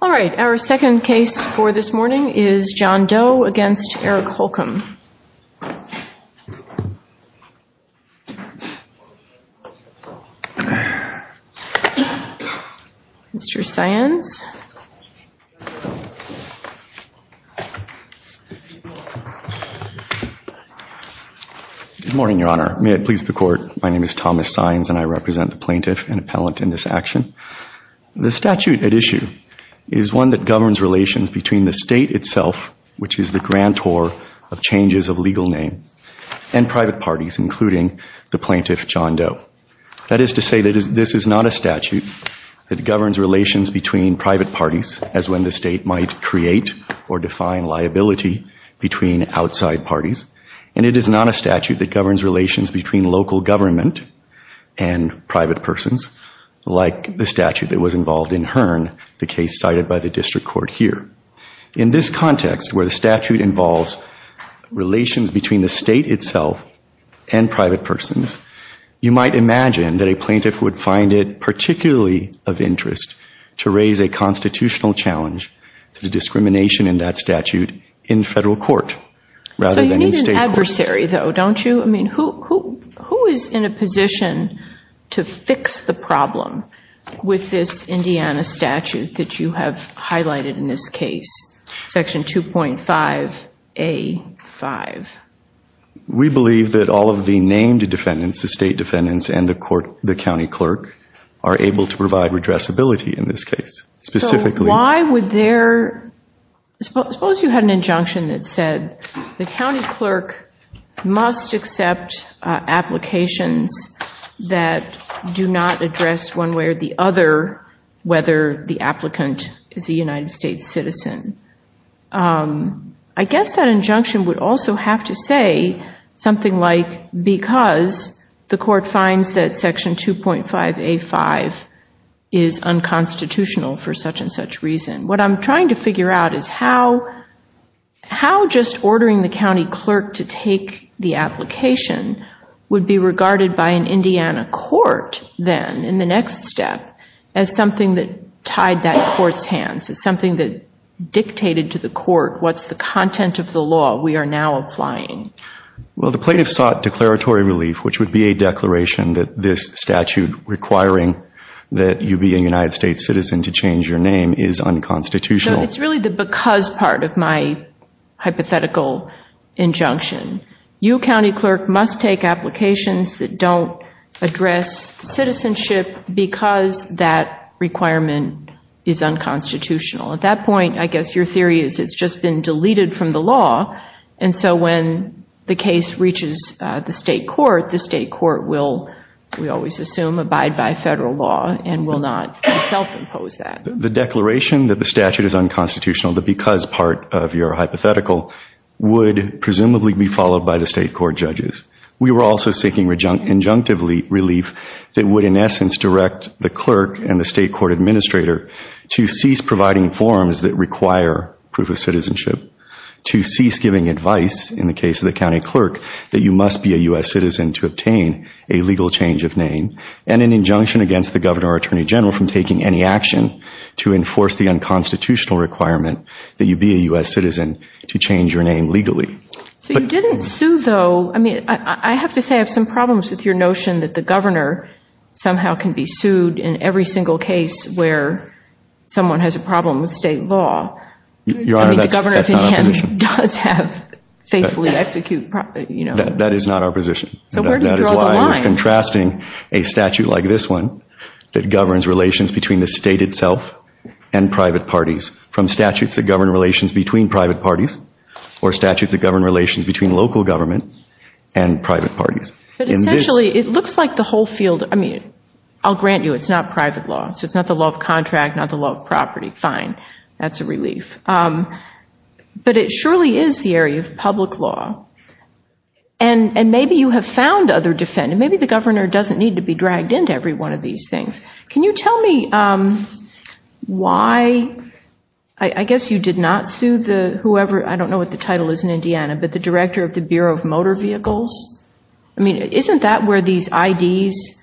All right, our second case for this morning is John Doe against Eric Holcomb. Mr. Saenz. Good morning, Your Honor. May it please the court, my name is Thomas Saenz and I represent the plaintiff and appellant in this action. The statute at issue is one that governs relations between the state itself, which is the grantor of changes of legal name, and private parties, including the plaintiff, John Doe. That is to say that this is not a statute that governs relations between private parties, as when the state might create or define liability between outside parties, and it is not a statute that governs relations between local government and private persons, like the statute that was involved in Hearn, the case cited by the district court here. In this context, where the statute involves relations between the state itself and private persons, you might imagine that a plaintiff would find it particularly of interest to raise a constitutional challenge to the discrimination in that statute in federal court, rather than in state court. So you need an adversary, though, don't you? I mean, who is in a position to fix the problem with this Indiana statute that you have highlighted in this case, Section 2.5A.5? We believe that all of the named defendants, the state defendants and the county clerk, are able to provide redressability in this case. Specifically- So why would their- suppose you had an injunction that said the county clerk must accept applications that do not address one way or the other whether the applicant is a United States citizen. I guess that injunction would also have to say something like, because the court finds that Section 2.5A.5 is unconstitutional for such and such reason. What I'm trying to figure out is how just ordering the county clerk to take the application would be regarded by an Indiana court then, in the next step, as something that tied that court's hands, as something that dictated to the court what's the content of the law we are now applying. Well the plaintiff sought declaratory relief, which would be a declaration that this statute requiring that you be a United States citizen to change your name is unconstitutional. It's really the because part of my hypothetical injunction. You, county clerk, must take applications that don't address citizenship because that requirement is unconstitutional. At that point, I guess your theory is it's just been deleted from the law, and so when the case reaches the state court, the state court will, we always assume, abide by federal law and will not self-impose that. The declaration that the statute is unconstitutional, the because part of your hypothetical, would presumably be followed by the state court judges. We were also seeking injunctively relief that would, in essence, direct the clerk and the state court administrator to cease providing forms that require proof of citizenship, to cease giving advice, in the case of the county clerk, that you must be a U.S. citizen to obtain a legal change of name, and an injunction against the governor or attorney general from taking any action to enforce the unconstitutional requirement that you be a U.S. citizen to change your So you didn't sue, though. I mean, I have to say I have some problems with your notion that the governor somehow can be sued in every single case where someone has a problem with state law. Your Honor, that's not our position. I mean, the governor does have faithfully execute, you know. That is not our position. So where do you draw the line? That is why I was contrasting a statute like this one that governs relations between the state itself and private parties from statutes that govern relations between private parties or statutes that govern relations between local government and private parties. But essentially, it looks like the whole field, I mean, I'll grant you it's not private law. So it's not the law of contract, not the law of property. Fine. That's a relief. But it surely is the area of public law. And maybe you have found other defendants. Maybe the governor doesn't need to be dragged into every one of these things. Can you tell me why, I guess you did not sue the whoever, I don't know what the title is in Indiana, but the director of the Bureau of Motor Vehicles? I mean, isn't that where these IDs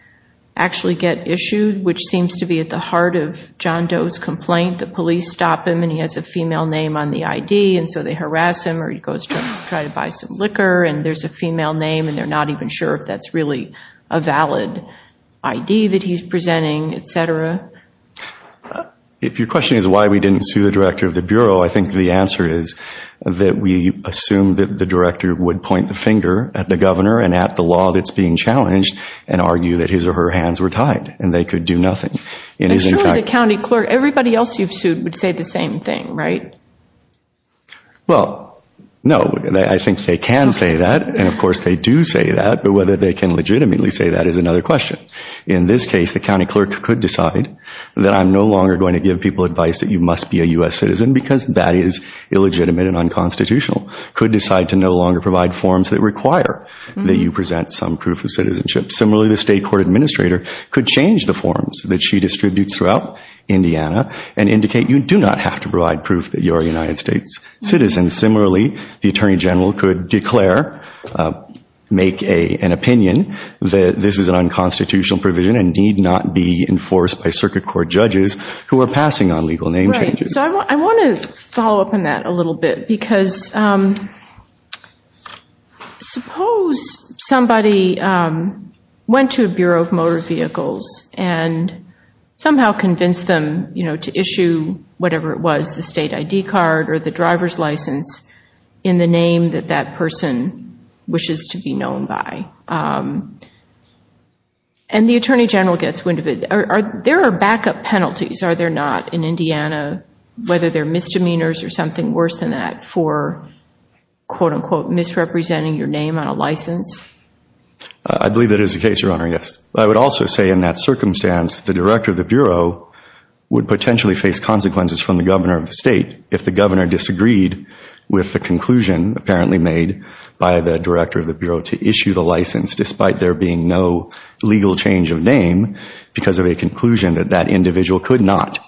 actually get issued, which seems to be at the heart of John Doe's complaint? The police stop him and he has a female name on the ID and so they harass him or he goes to try to buy some liquor and there's a female name and they're not even sure if that's really a valid ID that he's presenting, et cetera. If your question is why we didn't sue the director of the Bureau, I think the answer is that we assumed that the director would point the finger at the governor and at the law that's being challenged and argue that his or her hands were tied and they could do nothing. And surely the county clerk, everybody else you've sued would say the same thing, right? Well, no, I think they can say that. And of course they do say that, but whether they can legitimately say that is another question. In this case, the county clerk could decide that I'm no longer going to give people advice that you must be a U.S. citizen because that is illegitimate and unconstitutional. Could decide to no longer provide forms that require that you present some proof of citizenship. Similarly, the state court administrator could change the forms that she distributes throughout Indiana and indicate you do not have to provide proof that you're a United States citizen. And similarly, the attorney general could declare, make an opinion that this is an unconstitutional provision and need not be enforced by circuit court judges who are passing on legal name changes. Right. So I want to follow up on that a little bit because suppose somebody went to a Bureau of Motor Vehicles and somehow convinced them to issue whatever it was, the state ID card or the driver's license in the name that that person wishes to be known by. And the attorney general gets wind of it. There are backup penalties, are there not, in Indiana, whether they're misdemeanors or something worse than that for, quote unquote, misrepresenting your name on a license? I believe that is the case, Your Honor, yes. I would also say in that circumstance, the director of the Bureau would potentially face consequences from the governor of the state if the governor disagreed with the conclusion apparently made by the director of the Bureau to issue the license, despite there being no legal change of name because of a conclusion that that individual could not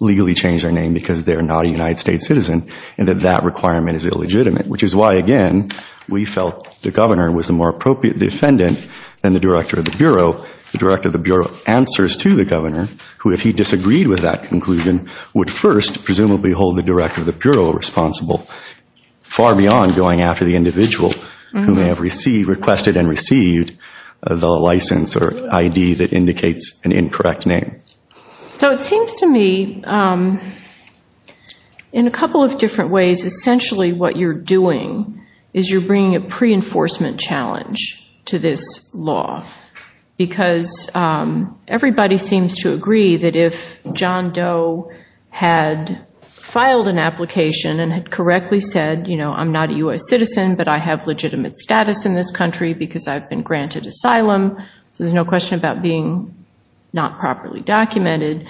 legally change their name because they're not a United States citizen and that that requirement is illegitimate, which is why, again, we felt the governor was a more appropriate defendant than the director of the Bureau. So the director of the Bureau answers to the governor who, if he disagreed with that conclusion, would first presumably hold the director of the Bureau responsible, far beyond going after the individual who may have requested and received the license or ID that indicates an incorrect name. So it seems to me, in a couple of different ways, essentially what you're doing is you're because everybody seems to agree that if John Doe had filed an application and had correctly said, you know, I'm not a U.S. citizen, but I have legitimate status in this country because I've been granted asylum, so there's no question about being not properly documented,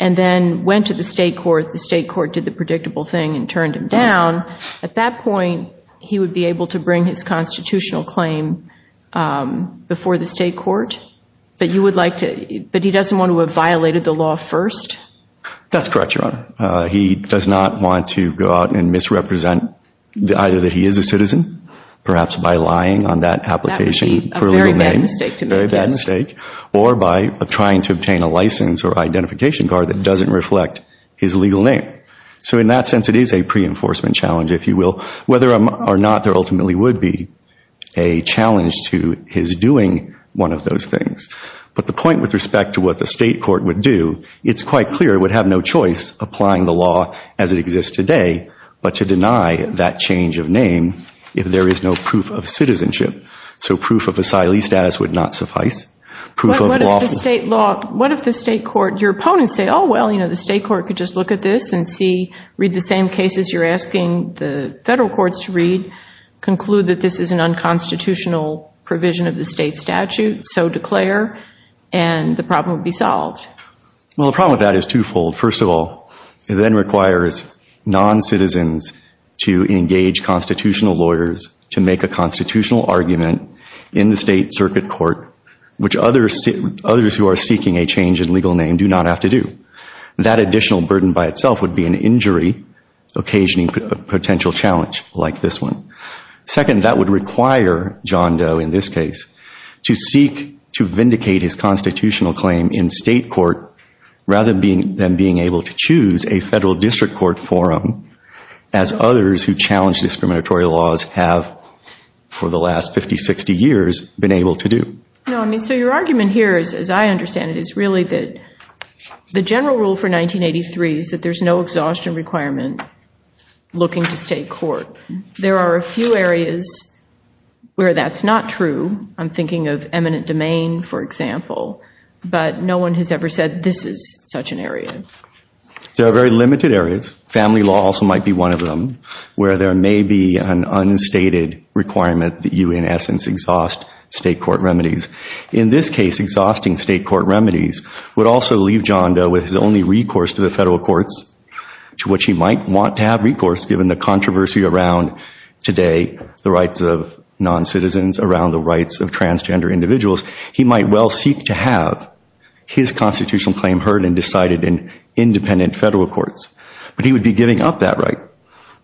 and then went to the state court, the state court did the predictable thing and turned him down, at that point, he would be able to bring his constitutional claim before the state court, but you would like to, but he doesn't want to have violated the law first? That's correct, Your Honor. He does not want to go out and misrepresent either that he is a citizen, perhaps by lying on that application for a legal name, very bad mistake, or by trying to obtain a license or identification card that doesn't reflect his legal name. So in that sense, it is a pre-enforcement challenge, if you will, whether or not there ultimately would be a challenge to his doing one of those things. But the point with respect to what the state court would do, it's quite clear it would have no choice applying the law as it exists today, but to deny that change of name if there is no proof of citizenship. So proof of asylee status would not suffice, proof of lawful status. What if the state court, your opponents say, oh, well, you know, the state court could just look at this and see, read the same cases you're asking the federal courts to read, conclude that this is an unconstitutional provision of the state statute, so declare, and the problem would be solved. Well, the problem with that is twofold. First of all, it then requires non-citizens to engage constitutional lawyers to make a constitutional argument in the state circuit court, which others who are seeking a change in legal name do not have to do. That additional burden by itself would be an injury, occasioning a potential challenge like this one. Second, that would require John Doe, in this case, to seek to vindicate his constitutional claim in state court rather than being able to choose a federal district court forum as others who challenge discriminatory laws have for the last 50, 60 years been able to do. No, I mean, so your argument here is, as I understand it, is really that the general rule for 1983 is that there's no exhaustion requirement looking to state court. There are a few areas where that's not true. I'm thinking of eminent domain, for example, but no one has ever said this is such an area. There are very limited areas. Family law also might be one of them, where there may be an unstated requirement that you, in essence, exhaust state court remedies. In this case, exhausting state court remedies would also leave John Doe with his only recourse to the federal courts, to which he might want to have recourse given the controversy around today, the rights of non-citizens, around the rights of transgender individuals. He might well seek to have his constitutional claim heard and decided in independent federal courts, but he would be giving up that right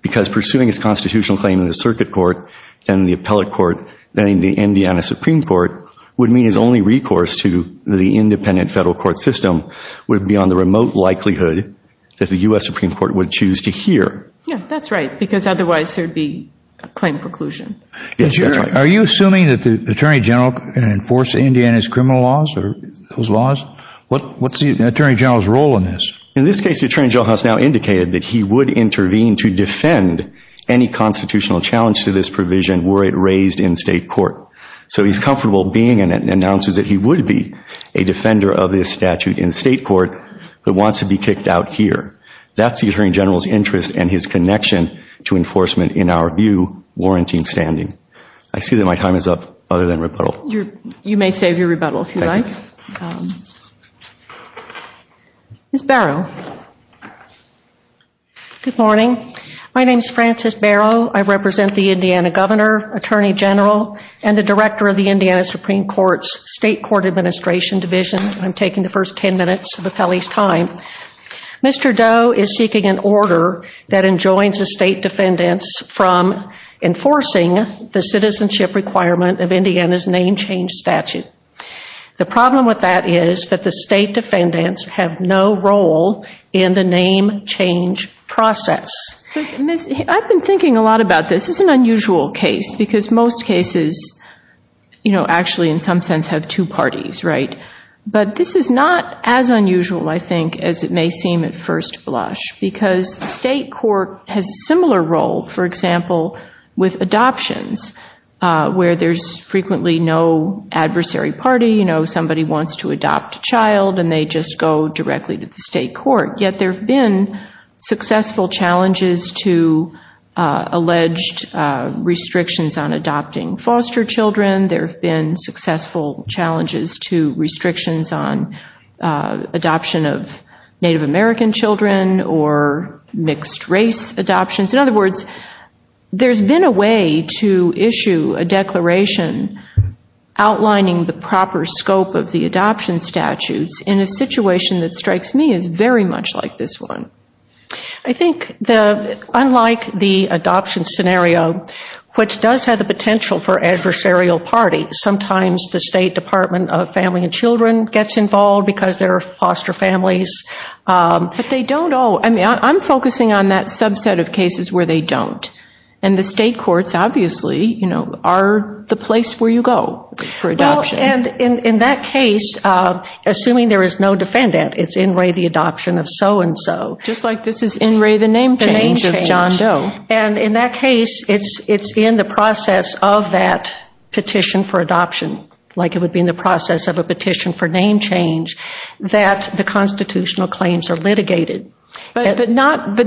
because pursuing his constitutional claim in the circuit court, then the appellate court, then in the Indiana Supreme Court would mean his only recourse to the independent federal court system would be on the remote likelihood that the U.S. Supreme Court would choose to hear. Yeah, that's right, because otherwise there'd be a claim preclusion. Are you assuming that the Attorney General can enforce Indiana's criminal laws or those laws? What's the Attorney General's role in this? In this case, the Attorney General has now indicated that he would intervene to defend any constitutional challenge to this provision were it raised in state court. So he's comfortable being in it and announces that he would be a defender of this statute in state court, but wants to be kicked out here. That's the Attorney General's interest and his connection to enforcement in our view warranting standing. I see that my time is up other than rebuttal. You may save your rebuttal if you like. Ms. Barrow. Good morning. My name is Frances Barrow. I represent the Indiana Governor, Attorney General, and the Director of the Indiana Supreme Court's State Court Administration Division. I'm taking the first 10 minutes of Appellee's time. Mr. Doe is seeking an order that enjoins the state defendants from enforcing the citizenship requirement of Indiana's name change statute. The problem with that is that the state defendants have no role in the name change process. I've been thinking a lot about this. This is an unusual case because most cases actually in some sense have two parties, right? But this is not as unusual I think as it may seem at first blush because the state court has a similar role, for example, with adoptions where there's frequently no adversary party. Somebody wants to adopt a child and they just go directly to the state court, yet there have been successful challenges to alleged restrictions on adopting foster children. There have been successful challenges to restrictions on adoption of Native American children or mixed race adoptions. In other words, there's been a way to issue a declaration outlining the proper scope of the adoption statutes in a situation that strikes me as very much like this one. I think unlike the adoption scenario, which does have the potential for adversarial parties, sometimes the State Department of Family and Children gets involved because they're foster families. I'm focusing on that subset of cases where they don't and the state courts, obviously, are the place where you go for adoption. In that case, assuming there is no defendant, it's in re the adoption of so and so. Just like this is in re the name change of John Doe. In that case, it's in the process of that petition for adoption, like it would be in the process of a petition for name change, that the constitutional claims are litigated. But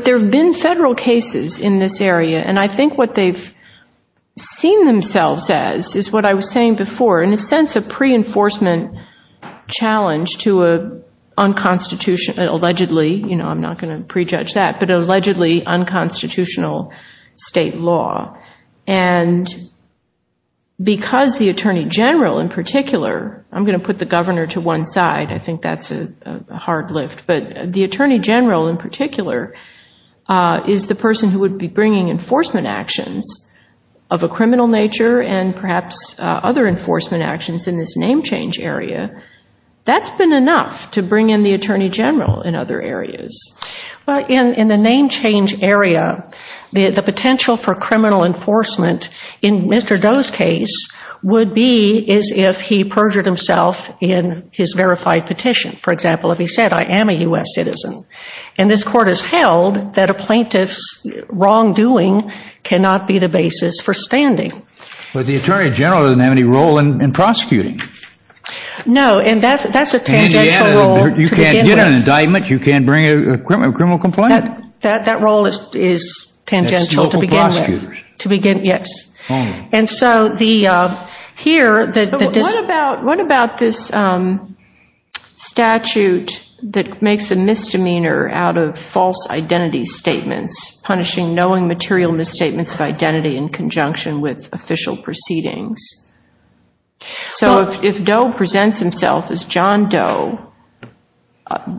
there have been federal cases in this area and I think what they've seen themselves as is what I was saying before, in a sense a pre-enforcement challenge to an unconstitutional state law. And because the Attorney General in particular, I'm going to put the Governor to one side, I think that's a hard lift, but the Attorney General in particular is the person who would be bringing enforcement actions of a criminal nature and perhaps other enforcement actions in this name change area. That's been enough to bring in the Attorney General in other areas. Well, in the name change area, the potential for criminal enforcement in Mr. Doe's case would be as if he perjured himself in his verified petition. For example, if he said, I am a U.S. citizen. And this Court has held that a plaintiff's wrongdoing cannot be the basis for standing. But the Attorney General doesn't have any role in prosecuting. No, and that's a tangential role to begin with. Right, you can't bring a criminal complaint. That role is tangential to begin with, yes. What about this statute that makes a misdemeanor out of false identity statements, punishing knowing material misstatements of identity in conjunction with official proceedings? So, if Doe presents himself as John Doe,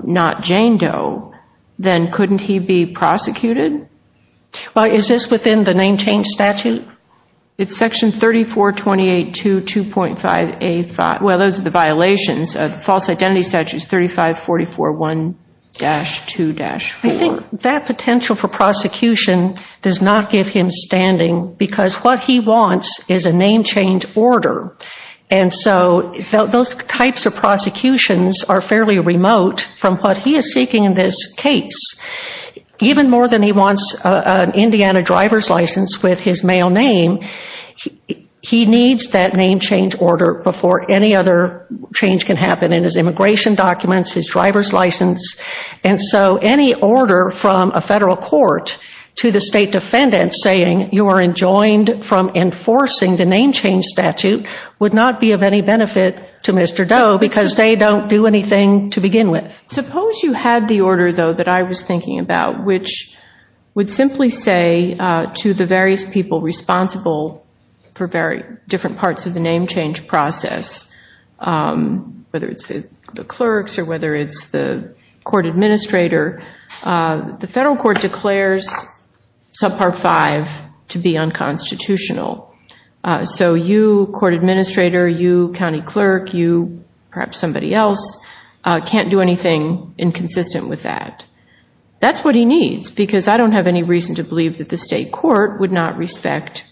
not Jane Doe, then couldn't he be prosecuted? Is this within the name change statute? It's section 3428.2.2.5A5, well those are the violations of the false identity statutes 3544.1-2-4. I think that potential for prosecution does not give him standing because what he wants is a name change order. And so, those types of prosecutions are fairly remote from what he is seeking in this case. Even more than he wants an Indiana driver's license with his male name, he needs that name change order before any other change can happen in his immigration documents, his driver's license. And so, any order from a federal court to the state defendant saying you are enjoined from enforcing the name change statute would not be of any benefit to Mr. Doe because they don't do anything to begin with. Suppose you had the order, though, that I was thinking about, which would simply say to the various people responsible for different parts of the name change process, whether it's the clerks or whether it's the court administrator, the federal court declares subpart 5 to be unconstitutional. So you, court administrator, you, county clerk, you, perhaps somebody else, can't do anything inconsistent with that. That's what he needs because I don't have any reason to believe that the state court would not respect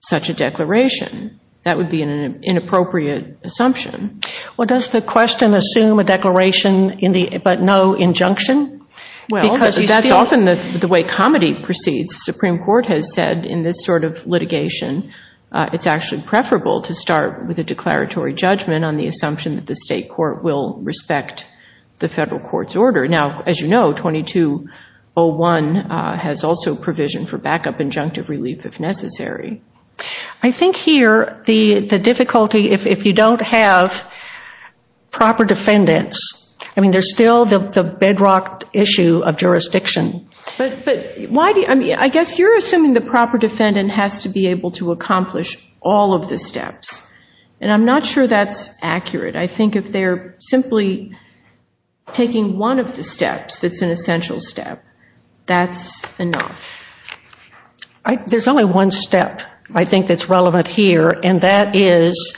such a declaration. That would be an inappropriate assumption. Well, does the question assume a declaration but no injunction? Well, that's often the way comedy proceeds. Supreme Court has said in this sort of litigation it's actually preferable to start with a declaratory judgment on the assumption that the state court will respect the federal court's order. Now, as you know, 2201 has also provision for backup injunctive relief if necessary. I think here the difficulty, if you don't have proper defendants, I mean, there's still the bedrock issue of jurisdiction. I guess you're assuming the proper defendant has to be able to accomplish all of the steps, and I'm not sure that's accurate. I think if they're simply taking one of the steps that's an essential step, that's enough. There's only one step I think that's relevant here, and that is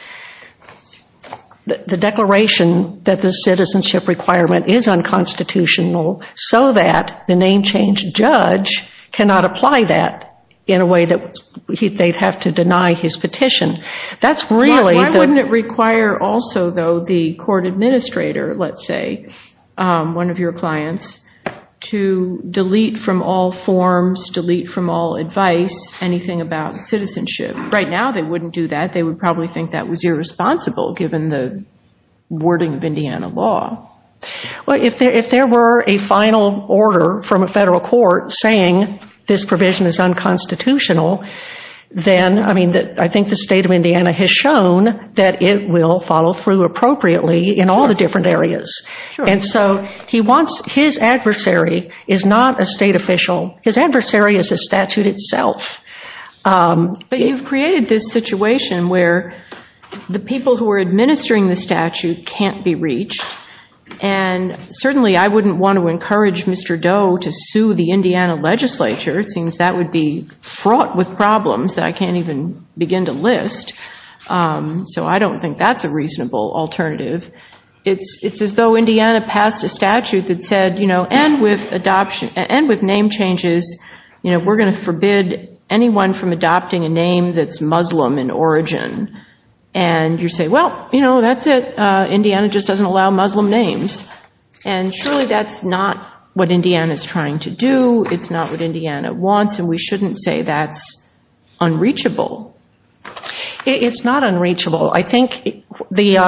the declaration that the state court has to be constitutional so that the name change judge cannot apply that in a way that they'd have to deny his petition. That's really the... Why wouldn't it require also, though, the court administrator, let's say, one of your clients, to delete from all forms, delete from all advice anything about citizenship? Right now they wouldn't do that. They would probably think that was irresponsible given the wording of Indiana law. Well, if there were a final order from a federal court saying this provision is unconstitutional, then, I mean, I think the state of Indiana has shown that it will follow through appropriately in all the different areas. And so he wants, his adversary is not a state official. His adversary is the statute itself. But you've created this situation where the people who are administering the statute can't be reached, and certainly I wouldn't want to encourage Mr. Doe to sue the Indiana legislature. It seems that would be fraught with problems that I can't even begin to list. So I don't think that's a reasonable alternative. It's as though Indiana passed a statute that said, you know, end with adoption, end with name changes, you know, we're going to forbid anyone from adopting a name that's Muslim in origin. And you say, well, you know, that's it. Indiana just doesn't allow Muslim names. And surely that's not what Indiana is trying to do. It's not what Indiana wants, and we shouldn't say that's unreachable. It's not unreachable. I think in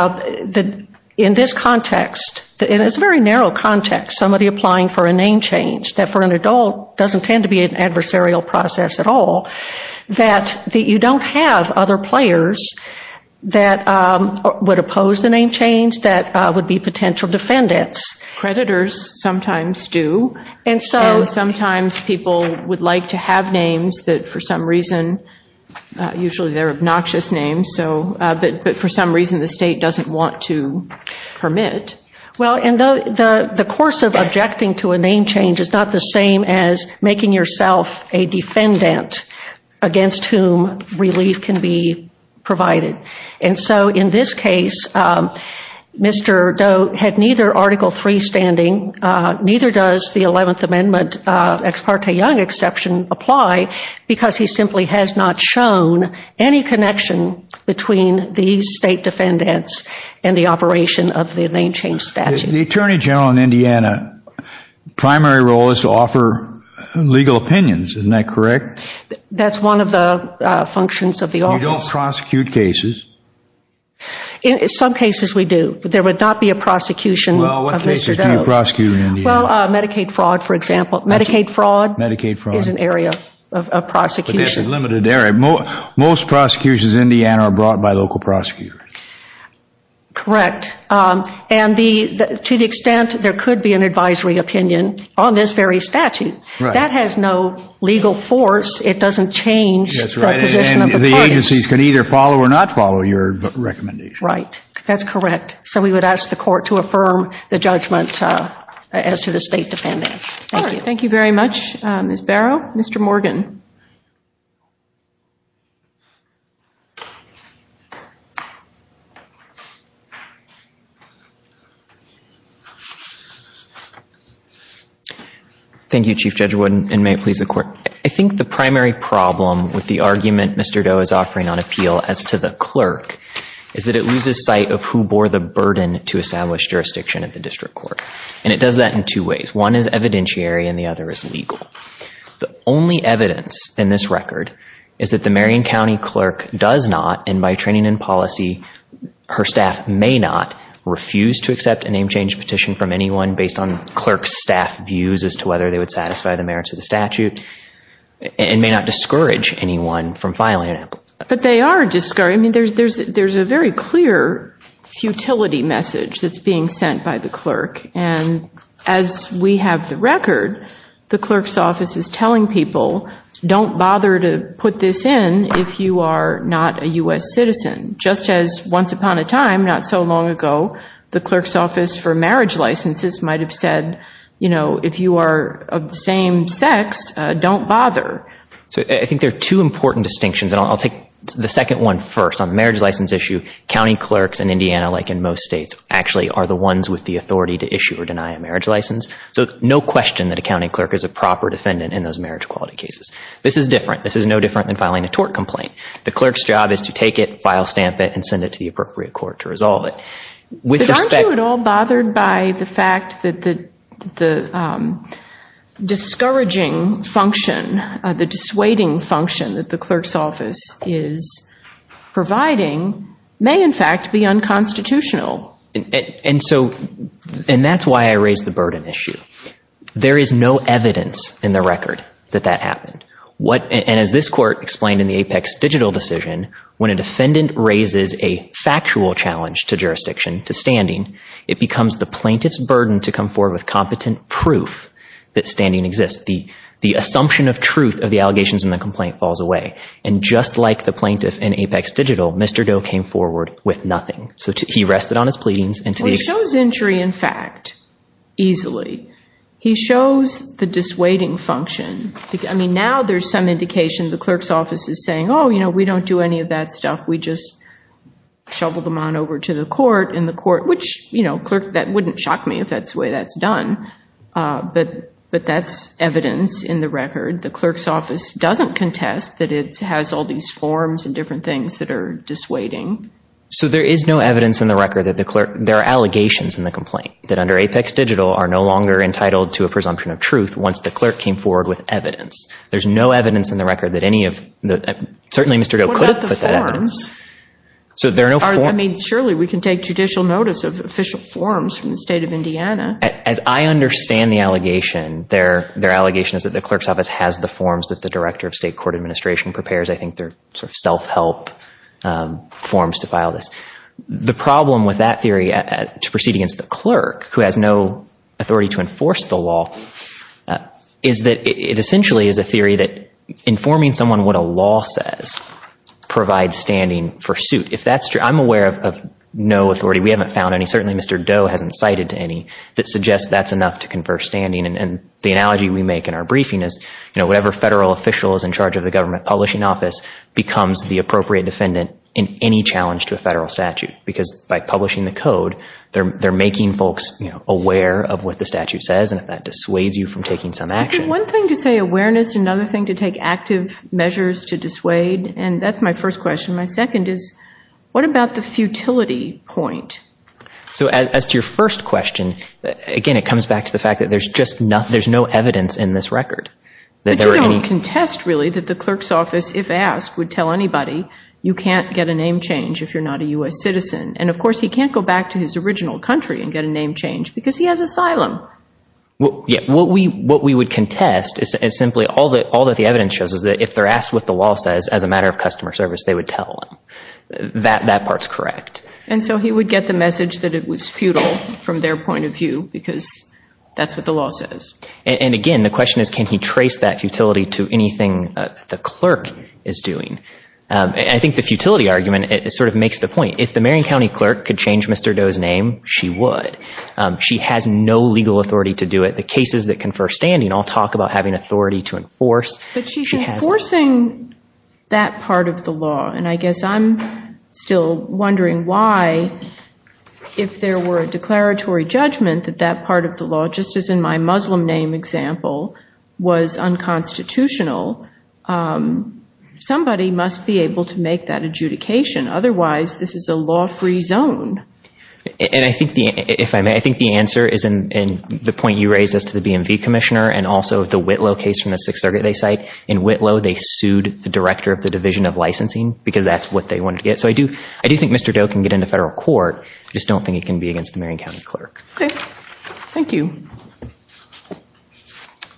this context, and it's a very narrow context, somebody applying for a name change that for an adult doesn't tend to be an adversarial process at all, that you don't have other players that would oppose the name change that would be potential defendants. Creditors sometimes do. And sometimes people would like to have names that for some reason, usually they're obnoxious names, but for some reason the state doesn't want to permit. Well, and the course of objecting to a name change is not the same as making yourself a defendant against whom relief can be provided. And so in this case, Mr. Doe had neither Article III standing, neither does the 11th Amendment Ex parte Young Exception apply, because he simply has not shown any connection between the state defendants and the operation of the name change statute. The Attorney General in Indiana's primary role is to offer legal opinions, isn't that correct? That's one of the functions of the office. You don't prosecute cases. Some cases we do, but there would not be a prosecution of Mr. Doe. Well, what cases do you prosecute in Indiana? Well, Medicaid fraud, for example. Medicaid fraud is an area of prosecution. But this is a limited area. Most prosecutions in Indiana are brought by local prosecutors. Correct. And to the extent there could be an advisory opinion on this very statute, that has no legal force. It doesn't change the position of the parties. And the agencies can either follow or not follow your recommendation. Right. That's correct. So we would ask the court to affirm the judgment as to the state defendants. Thank you. Thank you very much, Ms. Barrow. Mr. Morgan. Thank you, Chief Judge Wood. And may it please the court. I think the primary problem with the argument Mr. Doe is offering on appeal as to the clerk is that it loses sight of who bore the burden to establish jurisdiction at the district court. And it does that in two ways. One is evidentiary and the other is legal. The only evidence in this record is that the Marion County clerk does not, and by training and policy, her staff may not, refuse to accept a name change petition from anyone based on clerk staff views as to whether they would satisfy the merits of the statute and may not discourage anyone from filing an appeal. But they are discouraging. I mean, there's a very clear futility message that's being sent by the clerk. And as we have the record, the clerk's office is telling people, don't bother to put this in if you are not a U.S. citizen, just as once upon a time, not so long ago, the clerk's office for marriage licenses might have said, you know, if you are of the same sex, don't bother. So I think there are two important distinctions, and I'll take the second one first. On the marriage license issue, county clerks in Indiana, like in most states, actually are the ones with the authority to issue or deny a marriage license. So no question that a county clerk is a proper defendant in those marriage equality cases. This is different. This is no different than filing a tort complaint. The clerk's job is to take it, file stamp it, and send it to the appropriate court to resolve it. But aren't you at all bothered by the fact that the discouraging function, the dissuading function that the clerk's office is providing may, in fact, be unconstitutional? And so, and that's why I raised the burden issue. There is no evidence in the record that that happened. And as this court explained in the Apex Digital decision, when a defendant raises a factual challenge to jurisdiction, to standing, it becomes the plaintiff's burden to come forward with competent proof that standing exists. The assumption of truth of the allegations in the complaint falls away. And just like the plaintiff in Apex Digital, Mr. Doe came forward with nothing. So he rested on his pleadings and to the extent- Well, he shows injury in fact, easily. He shows the dissuading function. I mean, now there's some indication the clerk's office is saying, oh, you know, we don't do any of that stuff. We just shovel them on over to the court and the court, which, you know, clerk, that wouldn't shock me if that's the way that's done. But that's evidence in the record. The clerk's office doesn't contest that it has all these forms and different things that are dissuading. So there is no evidence in the record that the clerk, there are allegations in the complaint that under Apex Digital are no longer entitled to a presumption of truth once the clerk came forward with evidence. There's no evidence in the record that any of the, certainly Mr. Doe could have put that evidence. What about the forms? So there are no forms. I mean, surely we can take judicial notice of official forms from the state of Indiana. As I understand the allegation, their allegation is that the clerk's office has the forms that the director of state court administration prepares. I think they're sort of self-help forms to file this. The problem with that theory to proceed against the clerk, who has no authority to enforce the law, is that it essentially is a theory that informing someone what a law says provides standing for suit. If that's true, I'm aware of no authority. We haven't found any. Certainly Mr. Doe hasn't cited any that suggests that's enough to confer standing. And the analogy we make in our briefing is, you know, whatever federal official is in charge of the government publishing office becomes the appropriate defendant in any challenge to a federal statute. Because by publishing the code, they're making folks aware of what the statute says. And if that dissuades you from taking some action. One thing to say awareness, another thing to take active measures to dissuade. And that's my first question. My second is, what about the futility point? So as to your first question, again, it comes back to the fact that there's just no evidence in this record. But you don't contest really that the clerk's office, if asked, would tell anybody, you can't get a name change if you're not a U.S. citizen. And of course, he can't go back to his original country and get a name change because he has no legal authority. What we would contest is simply all that the evidence shows is that if they're asked what the law says as a matter of customer service, they would tell them that that part's correct. And so he would get the message that it was futile from their point of view, because that's what the law says. And again, the question is, can he trace that futility to anything the clerk is doing? I think the futility argument sort of makes the point if the Marion County clerk could change Mr. Doe's name, she would. She has no legal authority to do it. The cases that confer standing all talk about having authority to enforce. But she's enforcing that part of the law. And I guess I'm still wondering why, if there were a declaratory judgment that that part of the law, just as in my Muslim name example, was unconstitutional, somebody must be able to make that adjudication. Otherwise, this is a law-free zone. And I think, if I may, I think the answer is in the point you raised as to the BMV commissioner and also the Whitlow case from the Sixth Circuit they cite. In Whitlow, they sued the director of the Division of Licensing, because that's what they wanted to get. So I do think Mr. Doe can get into federal court, I just don't think it can be against the Marion County clerk.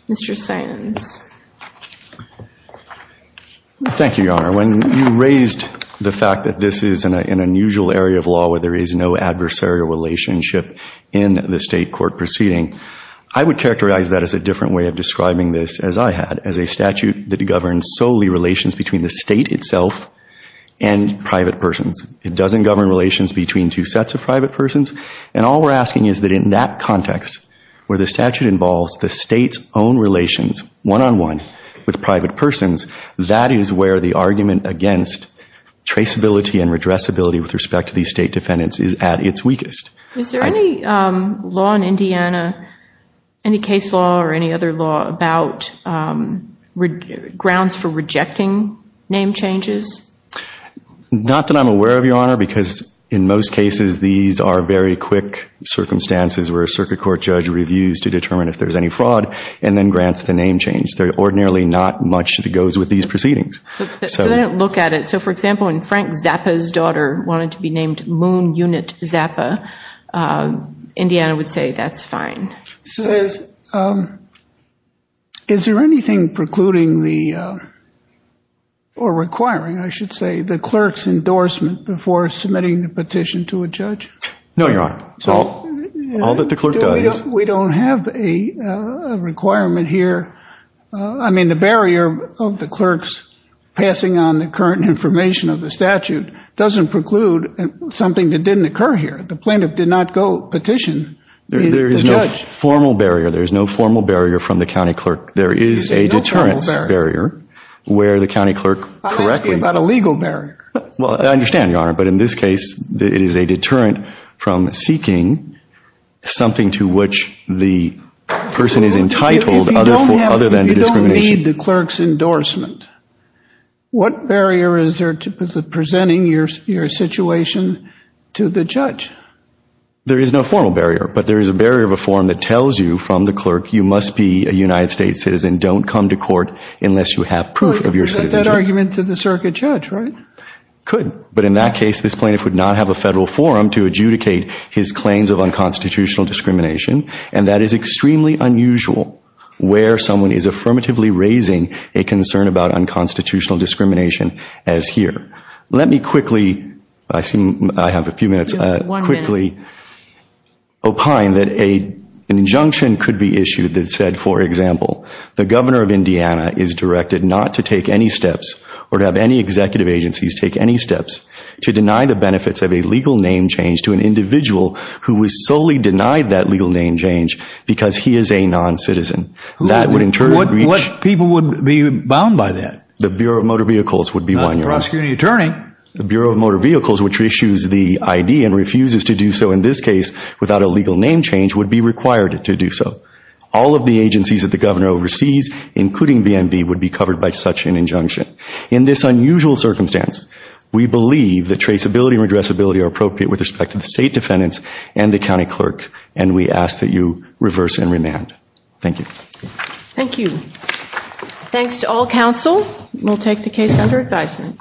Mr. Sands. Thank you, Your Honor. When you raised the fact that this is an unusual area of law where there is no adversarial relationship in the state court proceeding, I would characterize that as a different way of describing this as I had, as a statute that governs solely relations between the state itself and private persons. It doesn't govern relations between two sets of private persons. And all we're asking is that in that context, where the statute involves the state's own relations, one-on-one with private persons, that is where the argument against traceability and redressability with respect to these state defendants is at its weakest. Is there any law in Indiana, any case law or any other law about grounds for rejecting name changes? Not that I'm aware of, Your Honor, because in most cases these are very quick circumstances where a circuit court judge reviews to determine if there's any fraud and then grants the name change. Ordinarily, not much that goes with these proceedings. So they don't look at it. So for example, when Frank Zappa's daughter wanted to be named Moon Unit Zappa, Indiana would say that's fine. Is there anything precluding the, or requiring, I should say, the clerk's endorsement before submitting the petition to a judge? No, Your Honor. So all that the clerk does... We don't have a requirement here. I mean, the barrier of the clerk's passing on the current information of the statute doesn't preclude something that didn't occur here. The plaintiff did not go petition the judge. There is no formal barrier. There is no formal barrier from the county clerk. There is a deterrence barrier where the county clerk correctly... I'm asking about a legal barrier. Well, I understand, Your Honor. But in this case, it is a deterrent from seeking something to which the person is entitled other than the discrimination. If you don't need the clerk's endorsement, what barrier is there to presenting your situation to the judge? There is no formal barrier. But there is a barrier of a form that tells you from the clerk, you must be a United States citizen, don't come to court unless you have proof of your citizenship. That argument to the circuit judge, right? Could. But in that case, this plaintiff would not have a federal forum to adjudicate his claims of unconstitutional discrimination. And that is extremely unusual where someone is affirmatively raising a concern about unconstitutional discrimination as here. Let me quickly, I have a few minutes, quickly opine that an injunction could be issued that said, for example, the governor of Indiana is directed not to take any steps or to have any executive agencies take any steps to deny the benefits of a legal name change to an individual who was solely denied that legal name change because he is a non-citizen. That would in turn... What people would be bound by that? The Bureau of Motor Vehicles would be one, Your Honor. Not the prosecuting attorney. The Bureau of Motor Vehicles, which issues the ID and refuses to do so in this case without a legal name change would be required to do so. All of the agencies that the governor oversees, including BNV, would be covered by such an injunction. In this unusual circumstance, we believe that traceability and redressability are appropriate with respect to the state defendants and the county clerk, and we ask that you reverse and remand. Thank you. Thank you. Thanks to all counsel. We'll take the case under advisement.